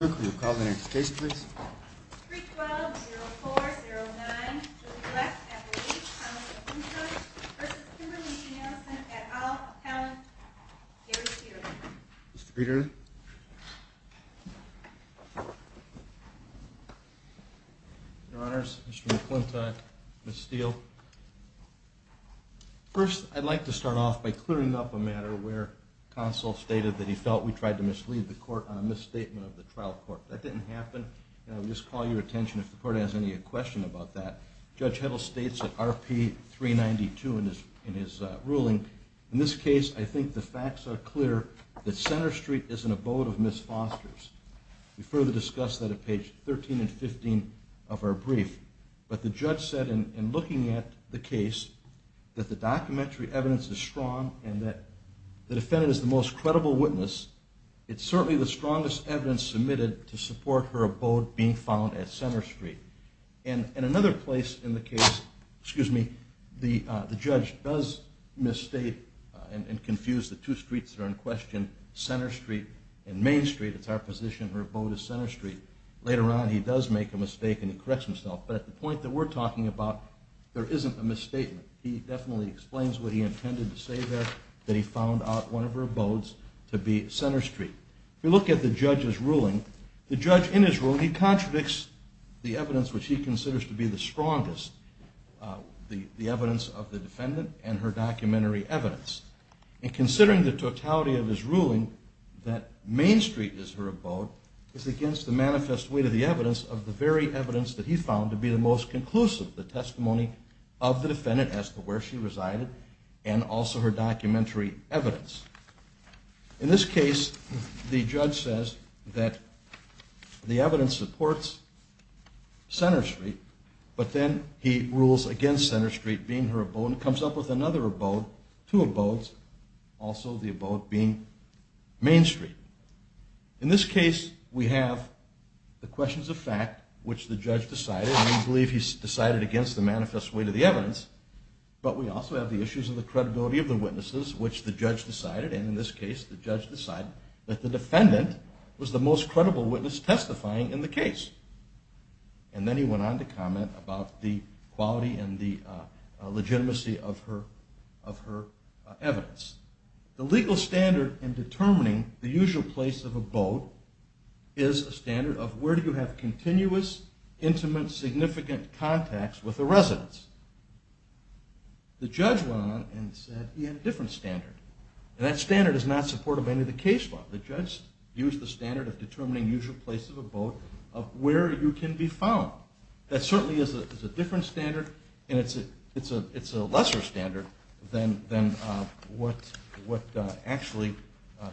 We'll call the next case, please. Mr. Peter. Your Honors, Mr. McClintock, Ms. Steele. First, I'd like to start off by clearing up a matter where counsel stated that he felt we tried to mislead the court on the trial court. That didn't happen. I'll just call your attention if the court has any question about that. Judge Heddle states at RP 392 in his ruling, in this case, I think the facts are clear that Center Street is an abode of Ms. Foster's. We further discuss that at page 13 and 15 of our brief, but the judge said in looking at the case that the documentary evidence is strong and that the defendant is the most credible witness. It's certainly the strongest evidence submitted to support her abode being found at Center Street. And in another place in the case, excuse me, the judge does misstate and confuse the two streets that are in question, Center Street and Main Street. It's our position her abode is Center Street. Later on, he does make a mistake and he corrects himself. But at the point that we're talking about, there isn't a misstatement. He definitely explains what he intended to say there, that he found out one of her abodes to be Center Street. We look at the judge's ruling. The judge in his ruling, he contradicts the evidence which he considers to be the strongest, the evidence of the defendant and her documentary evidence. And considering the totality of his ruling, that Main Street is her abode is against the manifest weight of the evidence of the very evidence that he found to be the most conclusive, the testimony of the defendant as to where she resided and also her documentary evidence. In this case, the judge says that the evidence supports Center Street, but then he rules against Center Street being her abode and comes up with another abode, two abodes, also the abode being Main Street. In this case, we have the questions of fact which the judge decided. We believe he's decided against the manifest weight of the evidence, but we also have the issues of the credibility of the witnesses which the judge decided. And in this case, the judge decided that the defendant was the most credible witness testifying in the case. And then he went on to comment about the quality and the legitimacy of her evidence. The legal standard in determining the usual place of abode is a standard of where do you have continuous, intimate, significant contacts with the residents. The judge went on and said he had a different standard. And that standard is not supportive of any of the case law. The judge used the standard of determining usual place of abode of where you can be found. That certainly is a different standard and it's a lesser standard than what actually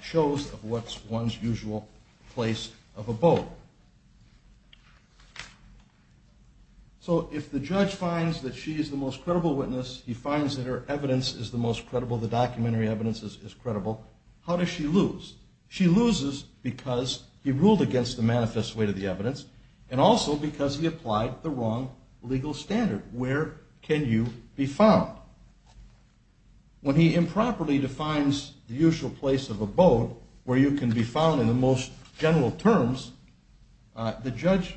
shows what's one's usual place of abode. So if the judge finds that she is the most credible witness, he finds that her evidence is the most credible, the documentary evidence is credible, how does she lose? She loses because he ruled against the manifest weight of the evidence and also because he applied the wrong legal standard. Where can you be found? When he improperly defines the usual place of abode where you can be found in the most general terms, the judge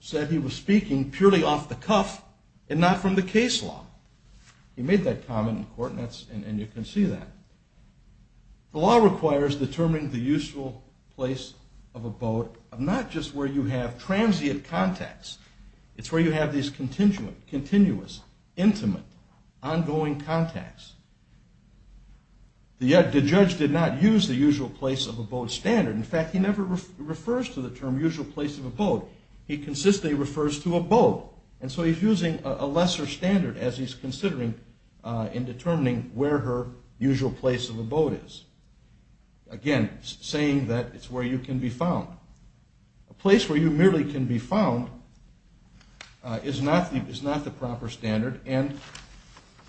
said he was speaking purely off the cuff and not from the case law. He made that comment in court and you can see that. The law requires determining the usual place of abode of not just where you have transient contacts. It's where you have these continuous, intimate, ongoing contacts. The judge did not use the usual place of abode standard. In fact, he never refers to the term usual place of abode. He consistently refers to abode. And so he's using a lesser standard as he's considering in determining where her usual place of abode is. Again, saying that it's where you can be found. A place where you merely can be found is not the proper standard. And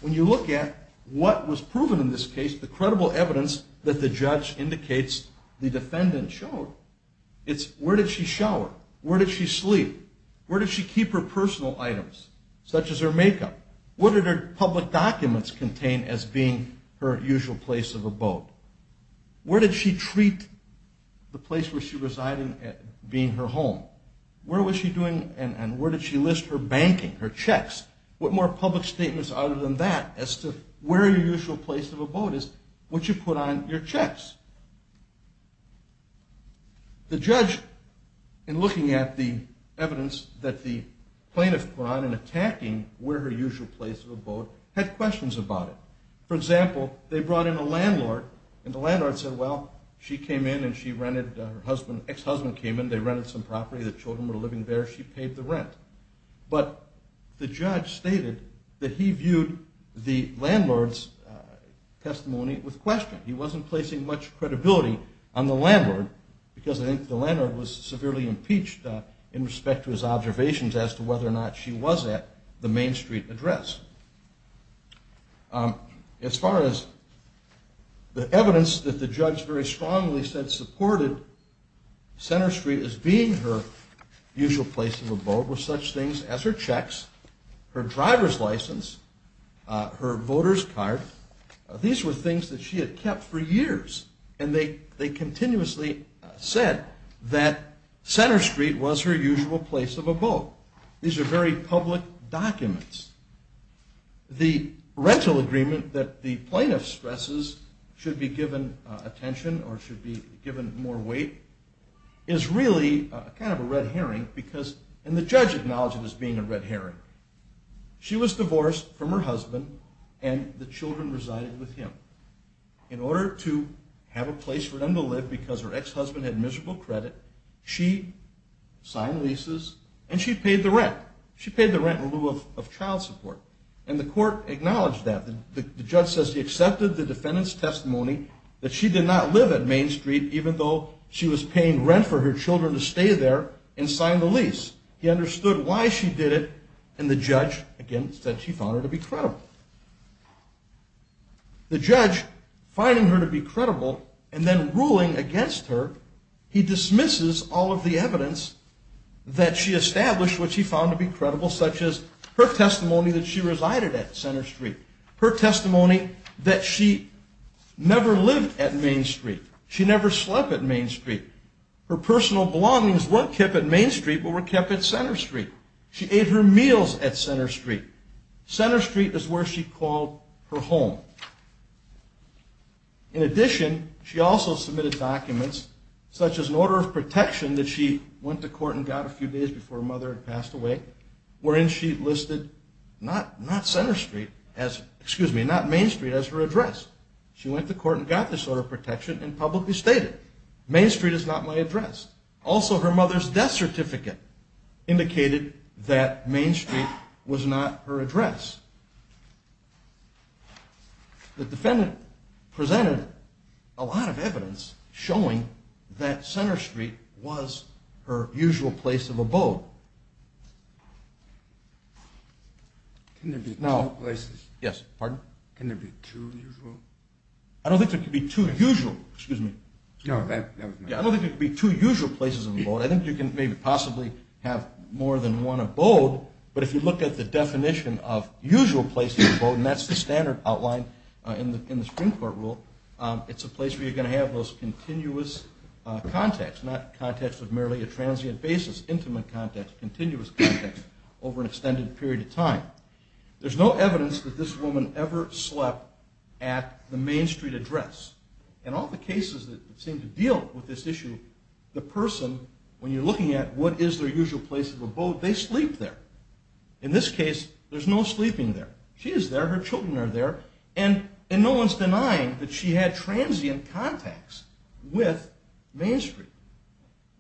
when you look at what was proven in this case, the credible evidence that the judge indicates the defendant showed, it's where did she shower? Where did she sleep? Where did she keep her personal items, such as her makeup? What did her public documents contain as being her usual place of abode? Where did she treat the place where she resided being her home? Where was she doing and where did she list her banking, her checks? What more public statements other than that as to where your usual place of abode is, would you put on your checks? The judge, in looking at the evidence that the defendant brought in, where her usual place of abode had questions about it. For example, they brought in a landlord and the landlord said, well, she came in and she rented, her ex-husband came in, they rented some property, the children were living there, she paid the rent. But the judge stated that he viewed the landlord's testimony with question. He wasn't placing much credibility on the landlord because I think the landlord was severely impeached in respect to his observations as to whether or not she was at the Main Street address. As far as the evidence that the judge very strongly said supported Center Street as being her usual place of abode were such things as her checks, her driver's license, her voter's card. These were things that she had kept for years and they continuously said that Center Street was her abode. These are very public documents. The rental agreement that the plaintiff stresses should be given attention or should be given more weight is really kind of a red herring because, and the judge acknowledged it as being a red herring. She was divorced from her husband and the children resided with him. In order to have a place for them to live because her ex- husband had miserable credit, she signed leases and she paid the rent. She paid the rent in lieu of child support. And the court acknowledged that. The judge says he accepted the defendant's testimony that she did not live at Main Street even though she was paying rent for her children to stay there and signed the lease. He understood why she did it and the judge, again, said she found her to be credible. The judge finding her to be credible and then ruling against her, he established what she found to be credible such as her testimony that she resided at Center Street. Her testimony that she never lived at Main Street. She never slept at Main Street. Her personal belongings weren't kept at Main Street but were kept at Center Street. She ate her meals at Center Street. Center Street is where she called her home. In addition, she also submitted documents such as an order of protection that she went to court and got a few days before her mother had passed away wherein she listed not Center Street, excuse me, not Main Street as her address. She went to court and got this order of protection and publicly stated, Main Street is not my address. Also, her mother's death certificate indicated that Main Street was not her address. The defendant presented a lot of her usual place of abode. I don't think there could be two usual places of abode. I think you can maybe possibly have more than one abode, but if you look at the definition of usual place of abode, and that's the standard outline in the Supreme Court rule, it's a place where you're going to have those continuous contacts, not contacts with merely a transient basis, intimate contacts, continuous contacts over an extended period of time. There's no evidence that this woman ever slept at the Main Street address. In all the cases that seem to deal with this issue, the person, when you're looking at what is their usual place of abode, they sleep there. In this case, there's no sleeping there. She is there, her children are there, and no one's denying that she had Main Street.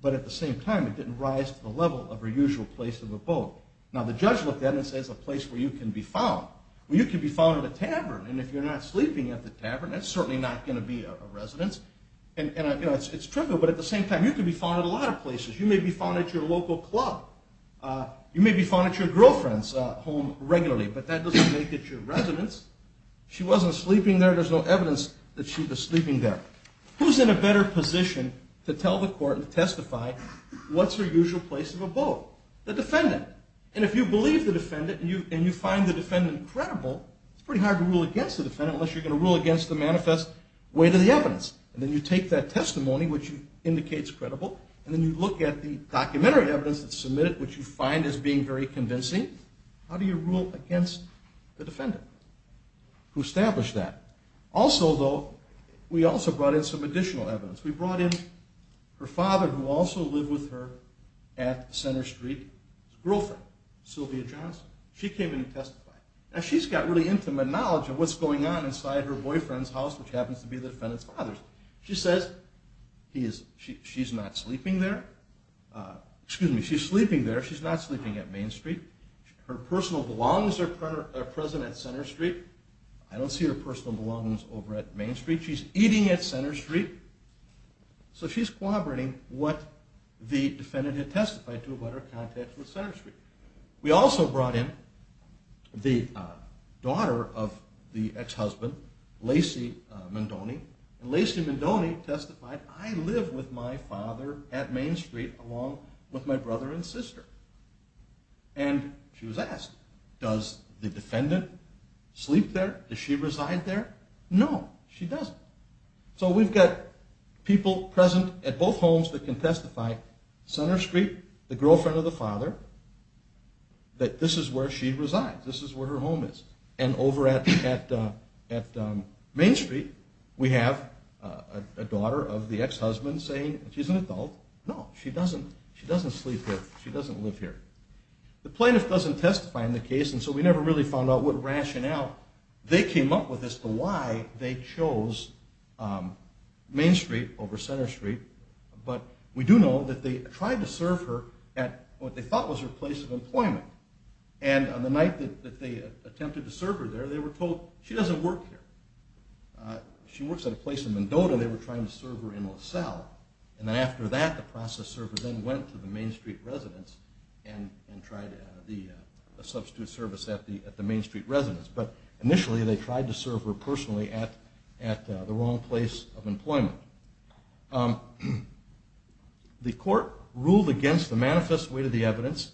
But at the same time, it didn't rise to the level of her usual place of abode. Now, the judge looked at it and says a place where you can be found. Well, you can be found at a tavern, and if you're not sleeping at the tavern, that's certainly not going to be a residence. And it's trivial, but at the same time, you can be found at a lot of places. You may be found at your local club. You may be found at your girlfriend's home regularly, but that doesn't make it your residence. She wasn't sleeping there. There's no evidence that she was sleeping there. Who's in a better position to tell the court and testify what's her usual place of abode? The defendant. And if you believe the defendant and you find the defendant credible, it's pretty hard to rule against the defendant unless you're going to rule against the manifest way to the evidence. And then you take that testimony, which indicates credible, and then you look at the documentary evidence that's submitted, which you find as being very convincing. How do you rule against the defendant who established that? Also, though, we also brought in some additional evidence. We brought in her father, who also lived with her at Center Street, his girlfriend, Sylvia Johnson. She came in and testified. Now, she's got really intimate knowledge of what's going on inside her boyfriend's house, which happens to be the defendant's father's. She says she's not sleeping there. Excuse me, she's sleeping there. She's not sleeping at Main Street. Her personal belongings are present at Center Street. I don't see her personal belongings over at Main Street. She's eating at Center Street. So she's corroborating what the defendant had testified to about her contacts with Center Street. We also brought in the daughter of the ex-husband, Lacey Mendoni, and Lacey Mendoni testified, I live with my father at Main Street along with my brother and sister. And she was asked, does the defendant sleep there? Does she reside there? No, she doesn't. So we've got people present at both homes that can testify, Center Street, the girlfriend of the father, that this is where she resides. This is where her home is. And over at Main Street, we have a daughter of the ex-husband saying she's an adult. No, she doesn't. She doesn't sleep here. She doesn't live here. The plaintiff doesn't testify in the case, and so we never really found out what rationale they came up with as to why they chose Main Street over Center Street. But we do know that they tried to serve her at what they thought was her place of employment. And on the night that they attempted to serve her there, they were told she doesn't work here. She works at a place in Mendota. They were trying to serve her in LaSalle. And then after that, the process server then went to the Main Street residence and tried the substitute service at the Main Street residence. But initially, they tried to serve her personally at the wrong place of employment. The court ruled against the manifest weight of the evidence.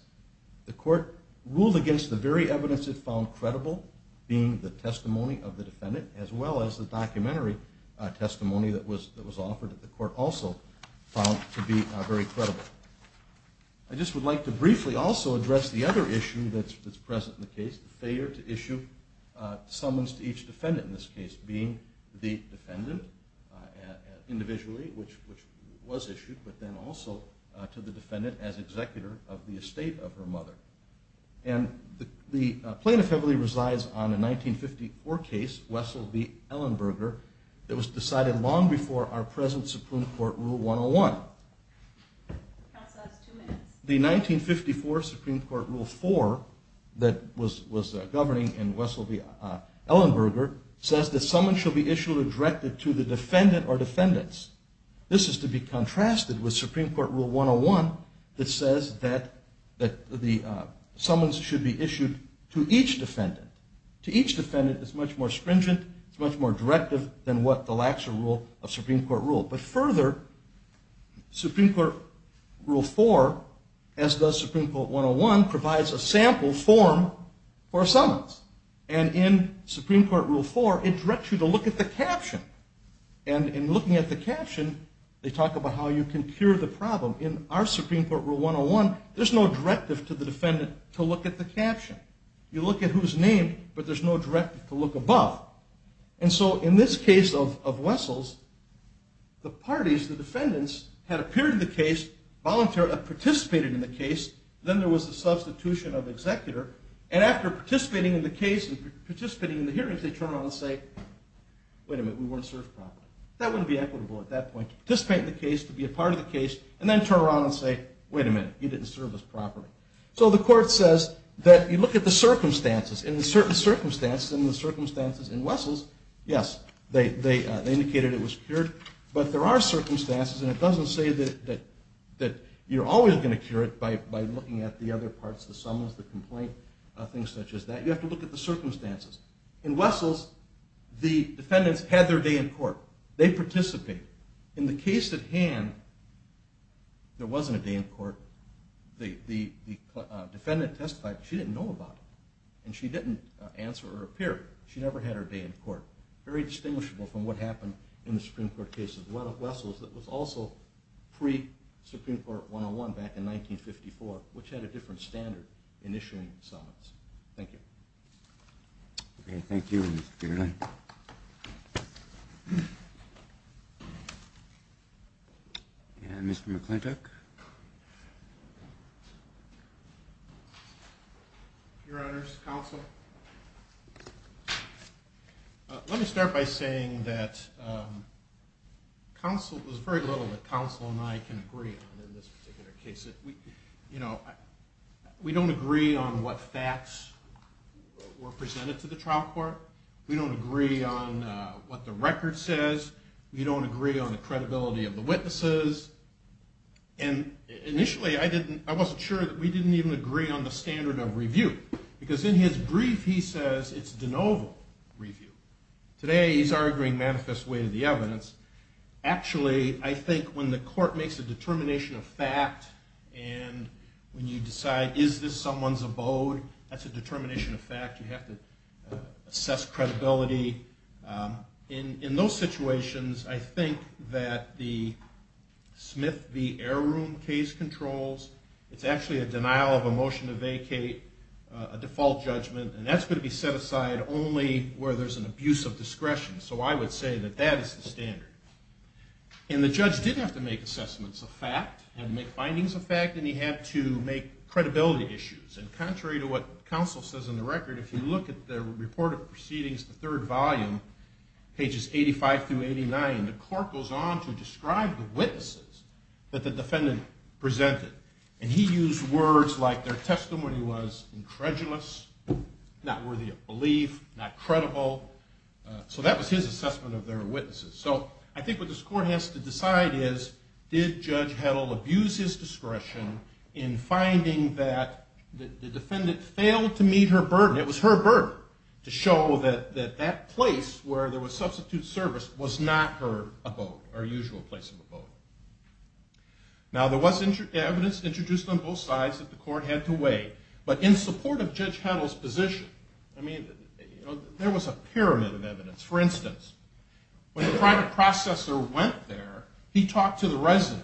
The court ruled against the very evidence it found credible, being the testimony of the defendant, as well as the documentary testimony that was offered that the court also found to be very credible. I just would like to briefly also address the other issue that's present in the case, the failure to issue summons to each defendant in this case, being the defendant individually, which was issued, but then also to the defendant as executor of the estate of her mother. And the plaintiff heavily resides on a 1954 case, Wessel v. Ellenberger, that was decided long before our present Supreme Court Rule 101. The 1954 Supreme Court Rule 4 that was governing in Wessel v. Ellenberger says that summons shall be issued directed to the defendant or defendants. This is to be contrasted with Supreme Court Rule 101 that says that the summons should be issued to each defendant. To each defendant, it's much more stringent. It's much more directive than what the lax rule of Supreme Court rule. But further, Supreme Court Rule 4, as does Supreme Court 101, provides a sample form for summons. And in Supreme Court Rule 4, it directs you to look at the caption. And in looking at the caption, they talk about how you can cure the problem. In our Supreme Court Rule 101, there's no directive to the defendant to look at the caption. You look at who's named, but there's no directive to look above. And so in this case of Wessel's, the parties, the defendants, had appeared in the case, volunteered, participated in the case. Then there was a substitution of executor. And after participating in the case and participating in the hearings, they turn around and say, wait a minute, we weren't served properly. That wouldn't be equitable at that point, to participate in the case, to be a part of the case, and then turn around and say, wait a minute, you didn't serve us properly. So the court says that you look at the circumstances. In certain circumstances, in the circumstances in Wessel's, yes, they indicated it was cured. But there are circumstances, and it doesn't say that you're always going to cure it by looking at the other parts, the summons, the complaint, things such as that. You have to look at the circumstances. In Wessel's, the defendants had their day in court. They participated. In the case at hand, there wasn't a day in court. The defendant testified, she didn't know about it. And she didn't answer or appear. She never had her day in court. Very distinguishable from what happened in the Supreme Court cases. A lot of Wessel's, that was also pre-Supreme Court 101 back in 1954, which had a different standard in issuing summons. Thank you. Okay. Thank you, Mr. Fairley. And Mr. McClintock. Your honors, counsel. Let me start by saying that there's very little that counsel and I can agree on in this particular case. We don't agree on what facts were presented to the trial court. We don't agree on what the record says. We don't agree on the credibility of the witnesses. And initially, I wasn't sure that we didn't even agree on the standard of review. Because in his brief, he says it's de novo review. Today, he's arguing manifest way to the evidence. Actually, I think when the court makes a determination of fact, and when you decide, is this someone's abode? That's a determination of fact. You have to assess credibility. In those situations, I think that the Smith v. Air Room case controls. It's actually a denial of a motion to vacate, a default judgment. And that's going to be set aside only where there's an abuse of discretion. So I would say that that is the standard. And the judge didn't have to make assessments of fact and make findings of fact. And he had to make credibility issues. And contrary to what counsel says in the record, if you look at the report of proceedings, the third volume, pages 85 through 89, the court goes on to describe the witnesses that the defendant presented. And he used words like their testimony was incredulous, not worthy of belief, not credible. So that was his assessment of their witnesses. So I think what this court has to decide is, did Judge Heddle abuse his discretion in finding that the defendant failed to meet her burden? It was her burden to show that that place where there was substitute service was not her abode, her usual place of abode. Now, there was evidence introduced on both sides that the court had to weigh. But in support of Judge Heddle's position, I mean, there was a pyramid of evidence. For instance, when the private processor went there, he talked to the resident.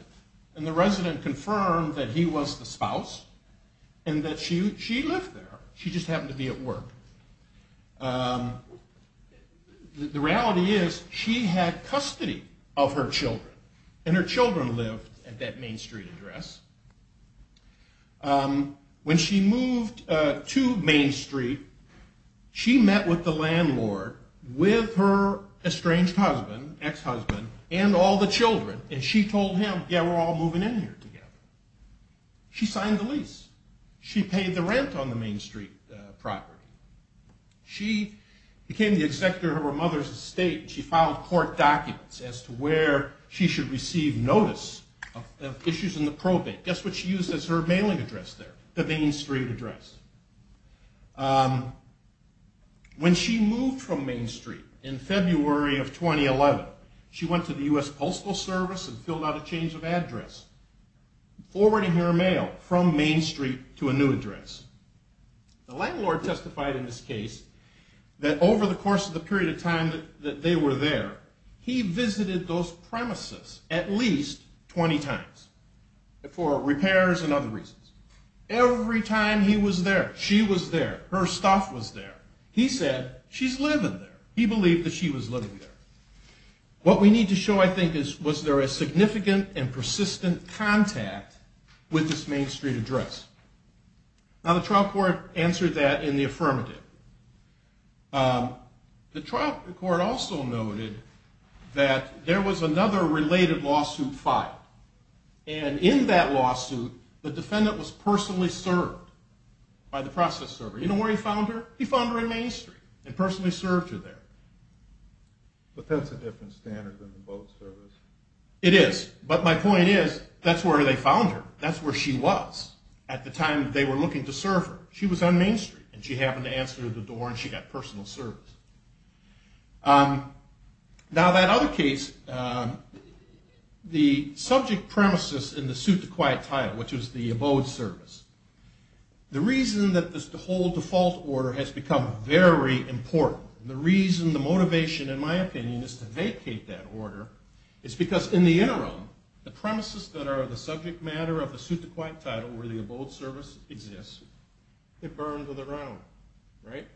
And the resident confirmed that he was the spouse and that she lived there. She just happened to be at work. The reality is she had custody of her children and her children lived at that Main Street address. When she moved to Main Street, she met with the landlord with her estranged husband, ex-husband, and all the children. And she told him, yeah, we're all moving in here together. She signed the lease. She paid the rent on the Main Street property. She became the executor of her mother's estate. She filed court documents as to where she should receive notice of issues in the probate. Guess what she used as her mailing address there? The Main Street address. When she moved from Main Street in February of 2011, she went to the U.S. Postal Service and filled out a change of address, forwarding her mail from Main Street to a new address. The landlord testified in this case that over the course of the period of time that they were there, he visited those properties at least 20 times for repairs and other reasons. Every time he was there, she was there. Her stuff was there. He said, she's living there. He believed that she was living there. What we need to show, I think, is was there a significant and persistent contact with this Main Street address? Now, the trial court answered that in the affirmative. The trial court also noted that there was another related lawsuit filed. And in that lawsuit, the defendant was personally served by the process server. You know where he found her? He found her in Main Street and personally served her there. But that's a different standard than the Postal Service. It is. But my point is, that's where they found her. That's where she was at the time they were looking to serve her. She was on Main Street and she happened to answer the door and she got personal service. Now, that case, the subject premises in the suit to quiet title, which is the abode service, the reason that this whole default order has become very important, the reason, the motivation, in my opinion, is to vacate that order, is because in the interim, the premises that are the subject matter of the suit to quiet title where the abode service exists, they're burned to the ground, right?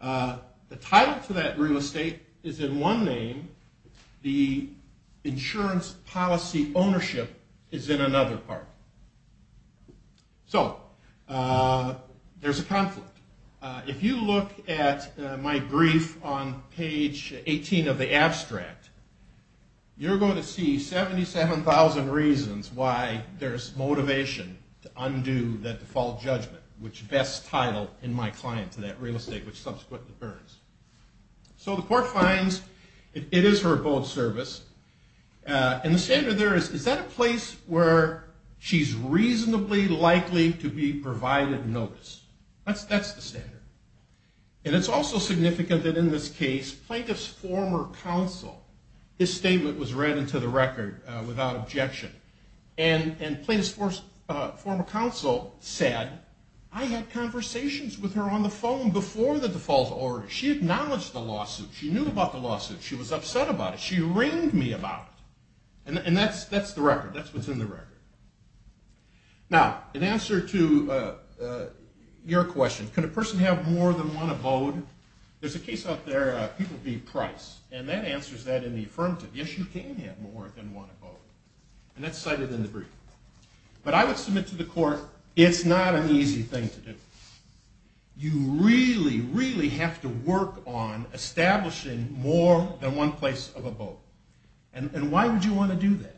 The title to that real estate is in one name, the insurance policy ownership is in another part. So, there's a conflict. If you look at my brief on page 18 of the abstract, you're going to see 77,000 reasons why there's motivation to undo that default judgment, which best title in my client to that real estate, which subsequently burns. So, the court finds it is her abode service, and the standard there is, is that a place where she's reasonably likely to be provided notice? That's the standard. And it's also significant that in this case, plaintiff's former counsel, his statement was read into the record without objection, and plaintiff's former counsel said, I had the default order. She acknowledged the lawsuit. She knew about the lawsuit. She was upset about it. She ringed me about it. And that's the record. That's what's in the record. Now, in answer to your question, can a person have more than one abode? There's a case out there, people be Price, and that answers that in the affirmative. Yes, you can have more than one abode. And that's cited in the brief. But I would submit to the court, it's not an easy thing to do. You really, really have to work on establishing more than one place of abode. And why would you want to do that?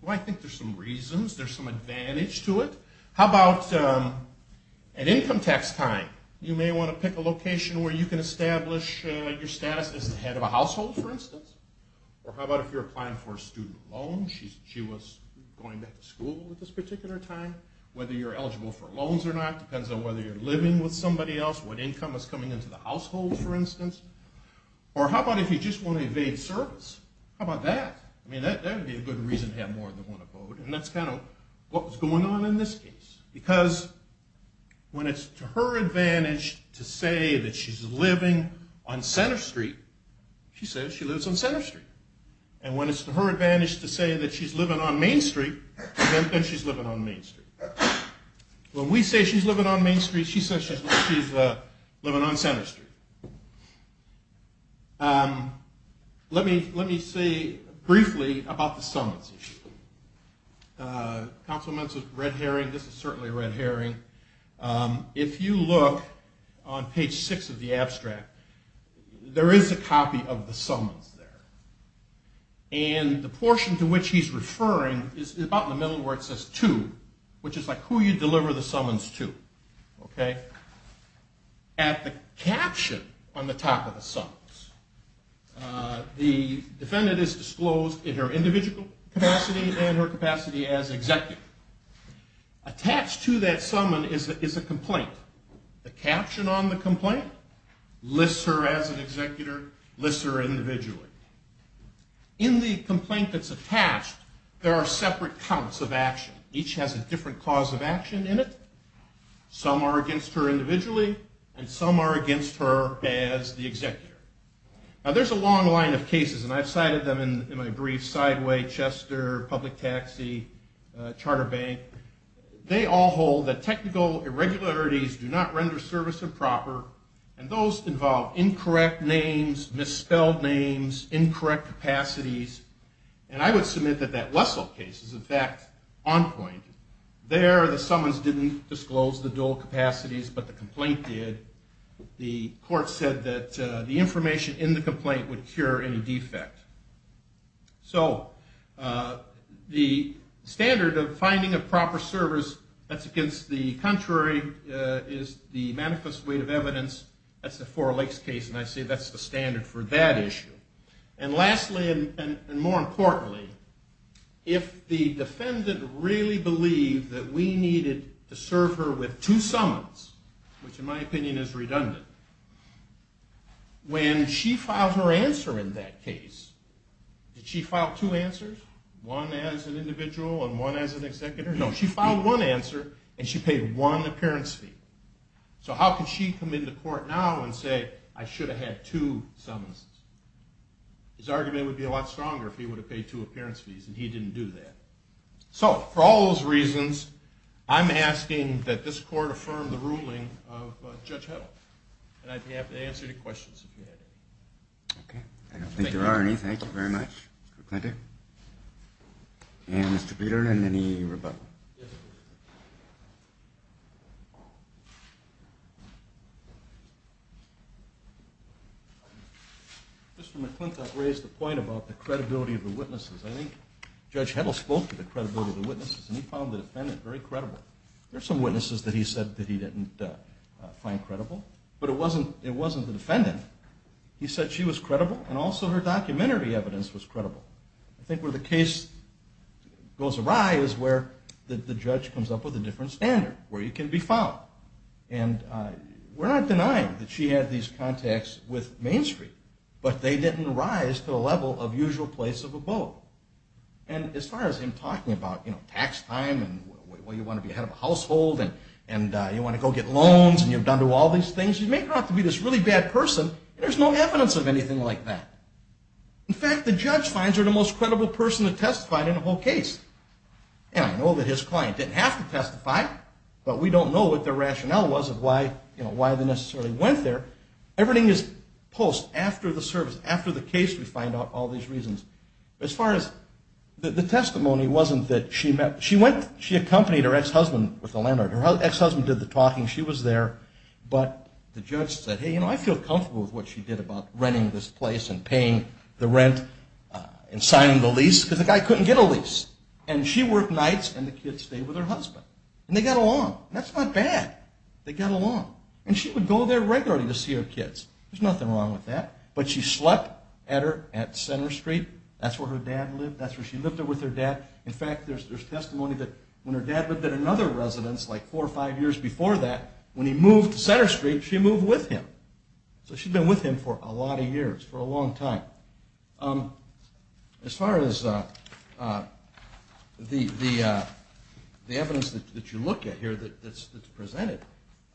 Well, I think there's some reasons. There's some advantage to it. How about an income tax time? You may want to pick a location where you can establish your status as the head of a household, for instance. Or how about if you're applying for a student loan? She was going back to school at this particular time. Whether you're eligible for loans or not depends on whether you're living with somebody else, what income is coming into the household, for instance. Or how about if you just want to evade service? How about that? I mean, that would be a good reason to have more than one abode. And that's kind of what was going on in this case. Because when it's to her advantage to say that she's living on Center Street, she says she lives on Center Street. And when it's to her advantage to say that she's living on Main Street, then she's living on Main Street. When we say she's living on Main Street, she says she's living on Center Street. Let me say briefly about the summons issue. Councilman Red Herring, this is certainly Red Herring. If you look on page six of the abstract, there is a copy of the summons there. And the portion to which he's referring is about in the middle where it says to, which is like who you deliver the summons to. At the caption on the top of the summons, the defendant is disclosed in her individual capacity and her capacity as executive. Attached to that summon is a complaint. The caption on the complaint lists her as an executor, lists her individually. In the complaint that's attached, there are separate counts of action. Each has a different cause of action in it. Some are against her individually, and some are against her as the executor. Now, there's a long line of cases, and I've cited them in my brief, Sideway, Chester, Public Taxi, Charter Bank. They all hold that technical irregularities do not render service improper, and those involve incorrect names, misspelled names, incorrect capacities. And I would submit that that is, in fact, on point. There, the summons didn't disclose the dual capacities, but the complaint did. The court said that the information in the complaint would cure any defect. So the standard of finding a proper service that's against the contrary is the manifest weight of evidence. That's the Four Lakes case, and I say that's the standard for that issue. And lastly, and more importantly, if the defendant really believed that we needed to serve her with two summons, which in my opinion is redundant, when she filed her answer in that case, did she file two answers? One as an individual and one as an executor? No. She filed one answer, and she paid one appearance fee. So how could she come into court now and say, I should have had two summons? His argument would be a lot stronger if he would have paid two appearance fees, and he didn't do that. So for all those reasons, I'm asking that this court affirm the ruling of Judge Heddle. And I'd be happy to answer any questions if you have any. Okay. Thank you, Arnie. Thank you very much, Mr. McClintock. And Mr. Biederman, any rebuttal? Mr. McClintock raised the credibility of the witnesses. I think Judge Heddle spoke to the credibility of the witnesses, and he found the defendant very credible. There are some witnesses that he said that he didn't find credible, but it wasn't the defendant. He said she was credible, and also her documentary evidence was credible. I think where the case goes awry is where the judge comes up with a different standard, where you can be found. And we're not denying that she had these contacts with Main Street, but they didn't rise to the level of usual place of a boat. And as far as him talking about, you know, tax time, and well, you want to be ahead of a household, and you want to go get loans, and you've done to all these things, you may not have to be this really bad person. There's no evidence of anything like that. In fact, the judge finds her the most credible person to testify in the whole case. And I know that his client didn't have to testify, but we don't know what their rationale was of why, you know, why they necessarily went there. Everything is post after the service, after the case, we find out all these reasons. As far as the testimony wasn't that she went, she accompanied her ex-husband with the landlord. Her ex-husband did the talking. She was there. But the judge said, hey, you know, I feel comfortable with what she did about renting this place, and paying the rent, and signing the lease, because the guy couldn't get a lease. And she worked nights, and the kids stayed with her husband. And they got along. That's not bad. They got along. And she would go there regularly to see her kids. There's nothing wrong with that. But she slept at her, at Center Street. That's where her dad lived. That's where she lived with her dad. In fact, there's testimony that when her dad lived at another residence, like four or five years before that, when he moved to Center Street, she moved with him. So she'd been with him for a lot of years, for a long time. As far as the evidence that you look at here that's presented,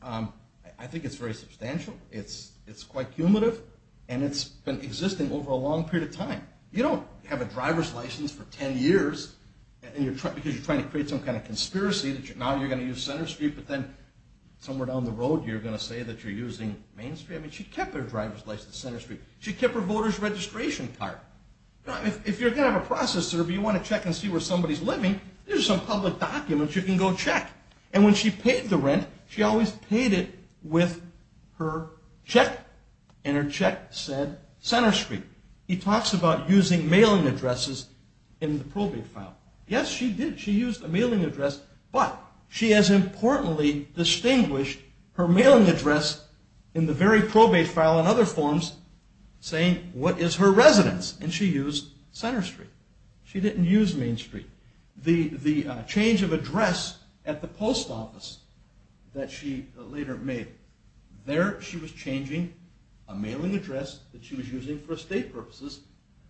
I think it's very substantial. It's quite cumulative. And it's been existing over a long period of time. You don't have a driver's license for 10 years, because you're trying to create some kind of conspiracy that now you're going to use Center Street. But then somewhere down the road, you're going to say that you're using Main Street. I mean, she kept her driver's license at Center Street. She kept her voter's registration card. If you're going to have a process survey, you want to check and see where somebody's living, there's some public documents you can go check. And when she paid the rent, she always paid it with her check. And her check said Center Street. He talks about using mailing addresses in the probate file. Yes, she did. She used a mailing address, but she has importantly distinguished her mailing address in the very probate file in other forms, saying what is her residence. And she used Center Street. She didn't use Main Street. The change of address at the mail, there she was changing a mailing address that she was using for estate purposes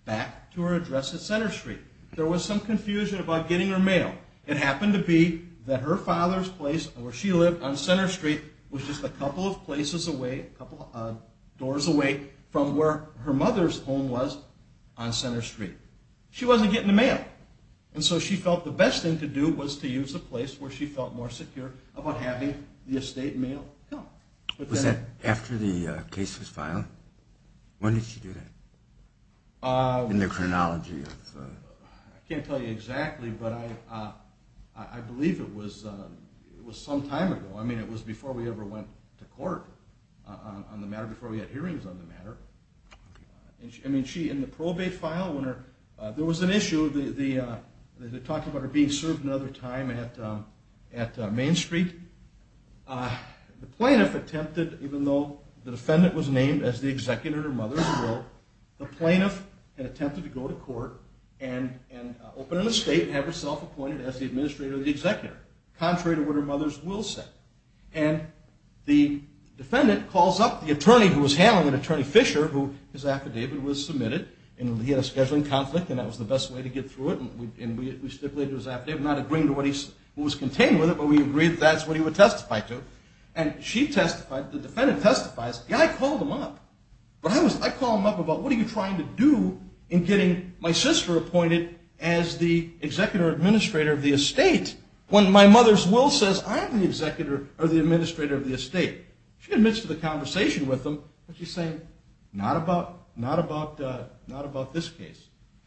back to her address at Center Street. There was some confusion about getting her mail. It happened to be that her father's place where she lived on Center Street was just a couple of places away, a couple doors away from where her mother's home was on Center Street. She wasn't getting the mail. And so she felt the best thing to do was to use the place where she felt more secure about having the estate mail. Was that after the case was filed? When did she do that? In the chronology? I can't tell you exactly, but I believe it was some time ago. I mean, it was before we ever went to court on the matter, before we had hearings on the matter. I mean, she, in the probate file, there was an issue. They talked about her being served another time at Main Street. The plaintiff attempted, even though the defendant was named as the executor of her mother's will, the plaintiff had attempted to go to court and open an estate and have herself appointed as the administrator of the executor, contrary to what her mother's will said. And the defendant calls up the attorney who was handling it, Attorney Fisher, who his affidavit was submitted, and he had a scheduling conflict, and that was the best way to get through it. And we stipulated his what was contained with it, but we agreed that's what he would testify to. And she testified, the defendant testifies, and I called him up. But I call him up about what are you trying to do in getting my sister appointed as the executor-administrator of the estate when my mother's will says I'm the executor or the administrator of the estate. She admits to the conversation with him, but she's saying not about this case,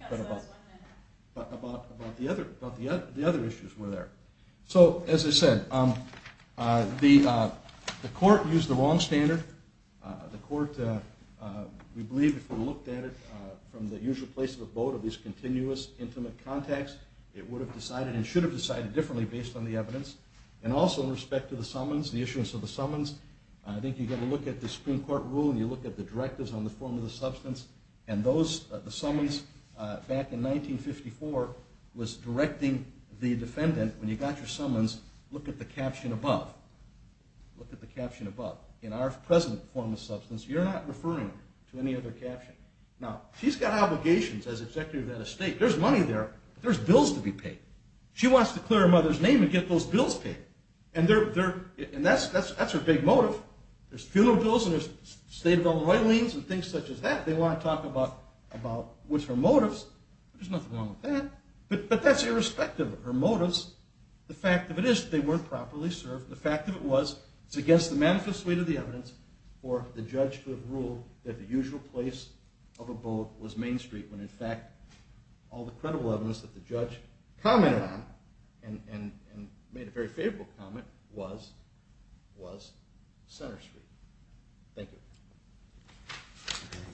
but about the other issues were there. So as I said, the court used the wrong standard. The court, we believe if we looked at it from the usual place of the boat of these continuous intimate contacts, it would have decided and should have decided differently based on the evidence. And also in respect to the summons, the issuance of the summons, I think you get a look at the Supreme Court rule and you look at the directives on the form of the substance, and those summons back in 1954 was directing the defendant when you got your summons, look at the caption above. Look at the caption above. In our present form of substance, you're not referring to any other caption. Now, she's got obligations as executor of that estate. There's money there. There's bills to be paid. She wants to clear her mother's name and get those bills paid. And that's her big motive. There's funeral bills and there's state of the art royalties and things such as that. They want to talk about what's her motives. There's nothing wrong with that. But that's irrespective of her motives. The fact of it is they weren't properly served. The fact of it was it's against the manifest way to the evidence for the judge to have ruled that the usual place of a boat was Main Street when in fact all the credible evidence that the judge commented on and made a very favorable comment was Center Street. Thank you.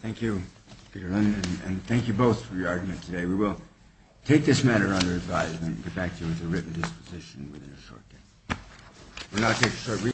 Thank you. And thank you both for your argument today. We will take this matter under advisement and get back to you with a written disposition within a short time.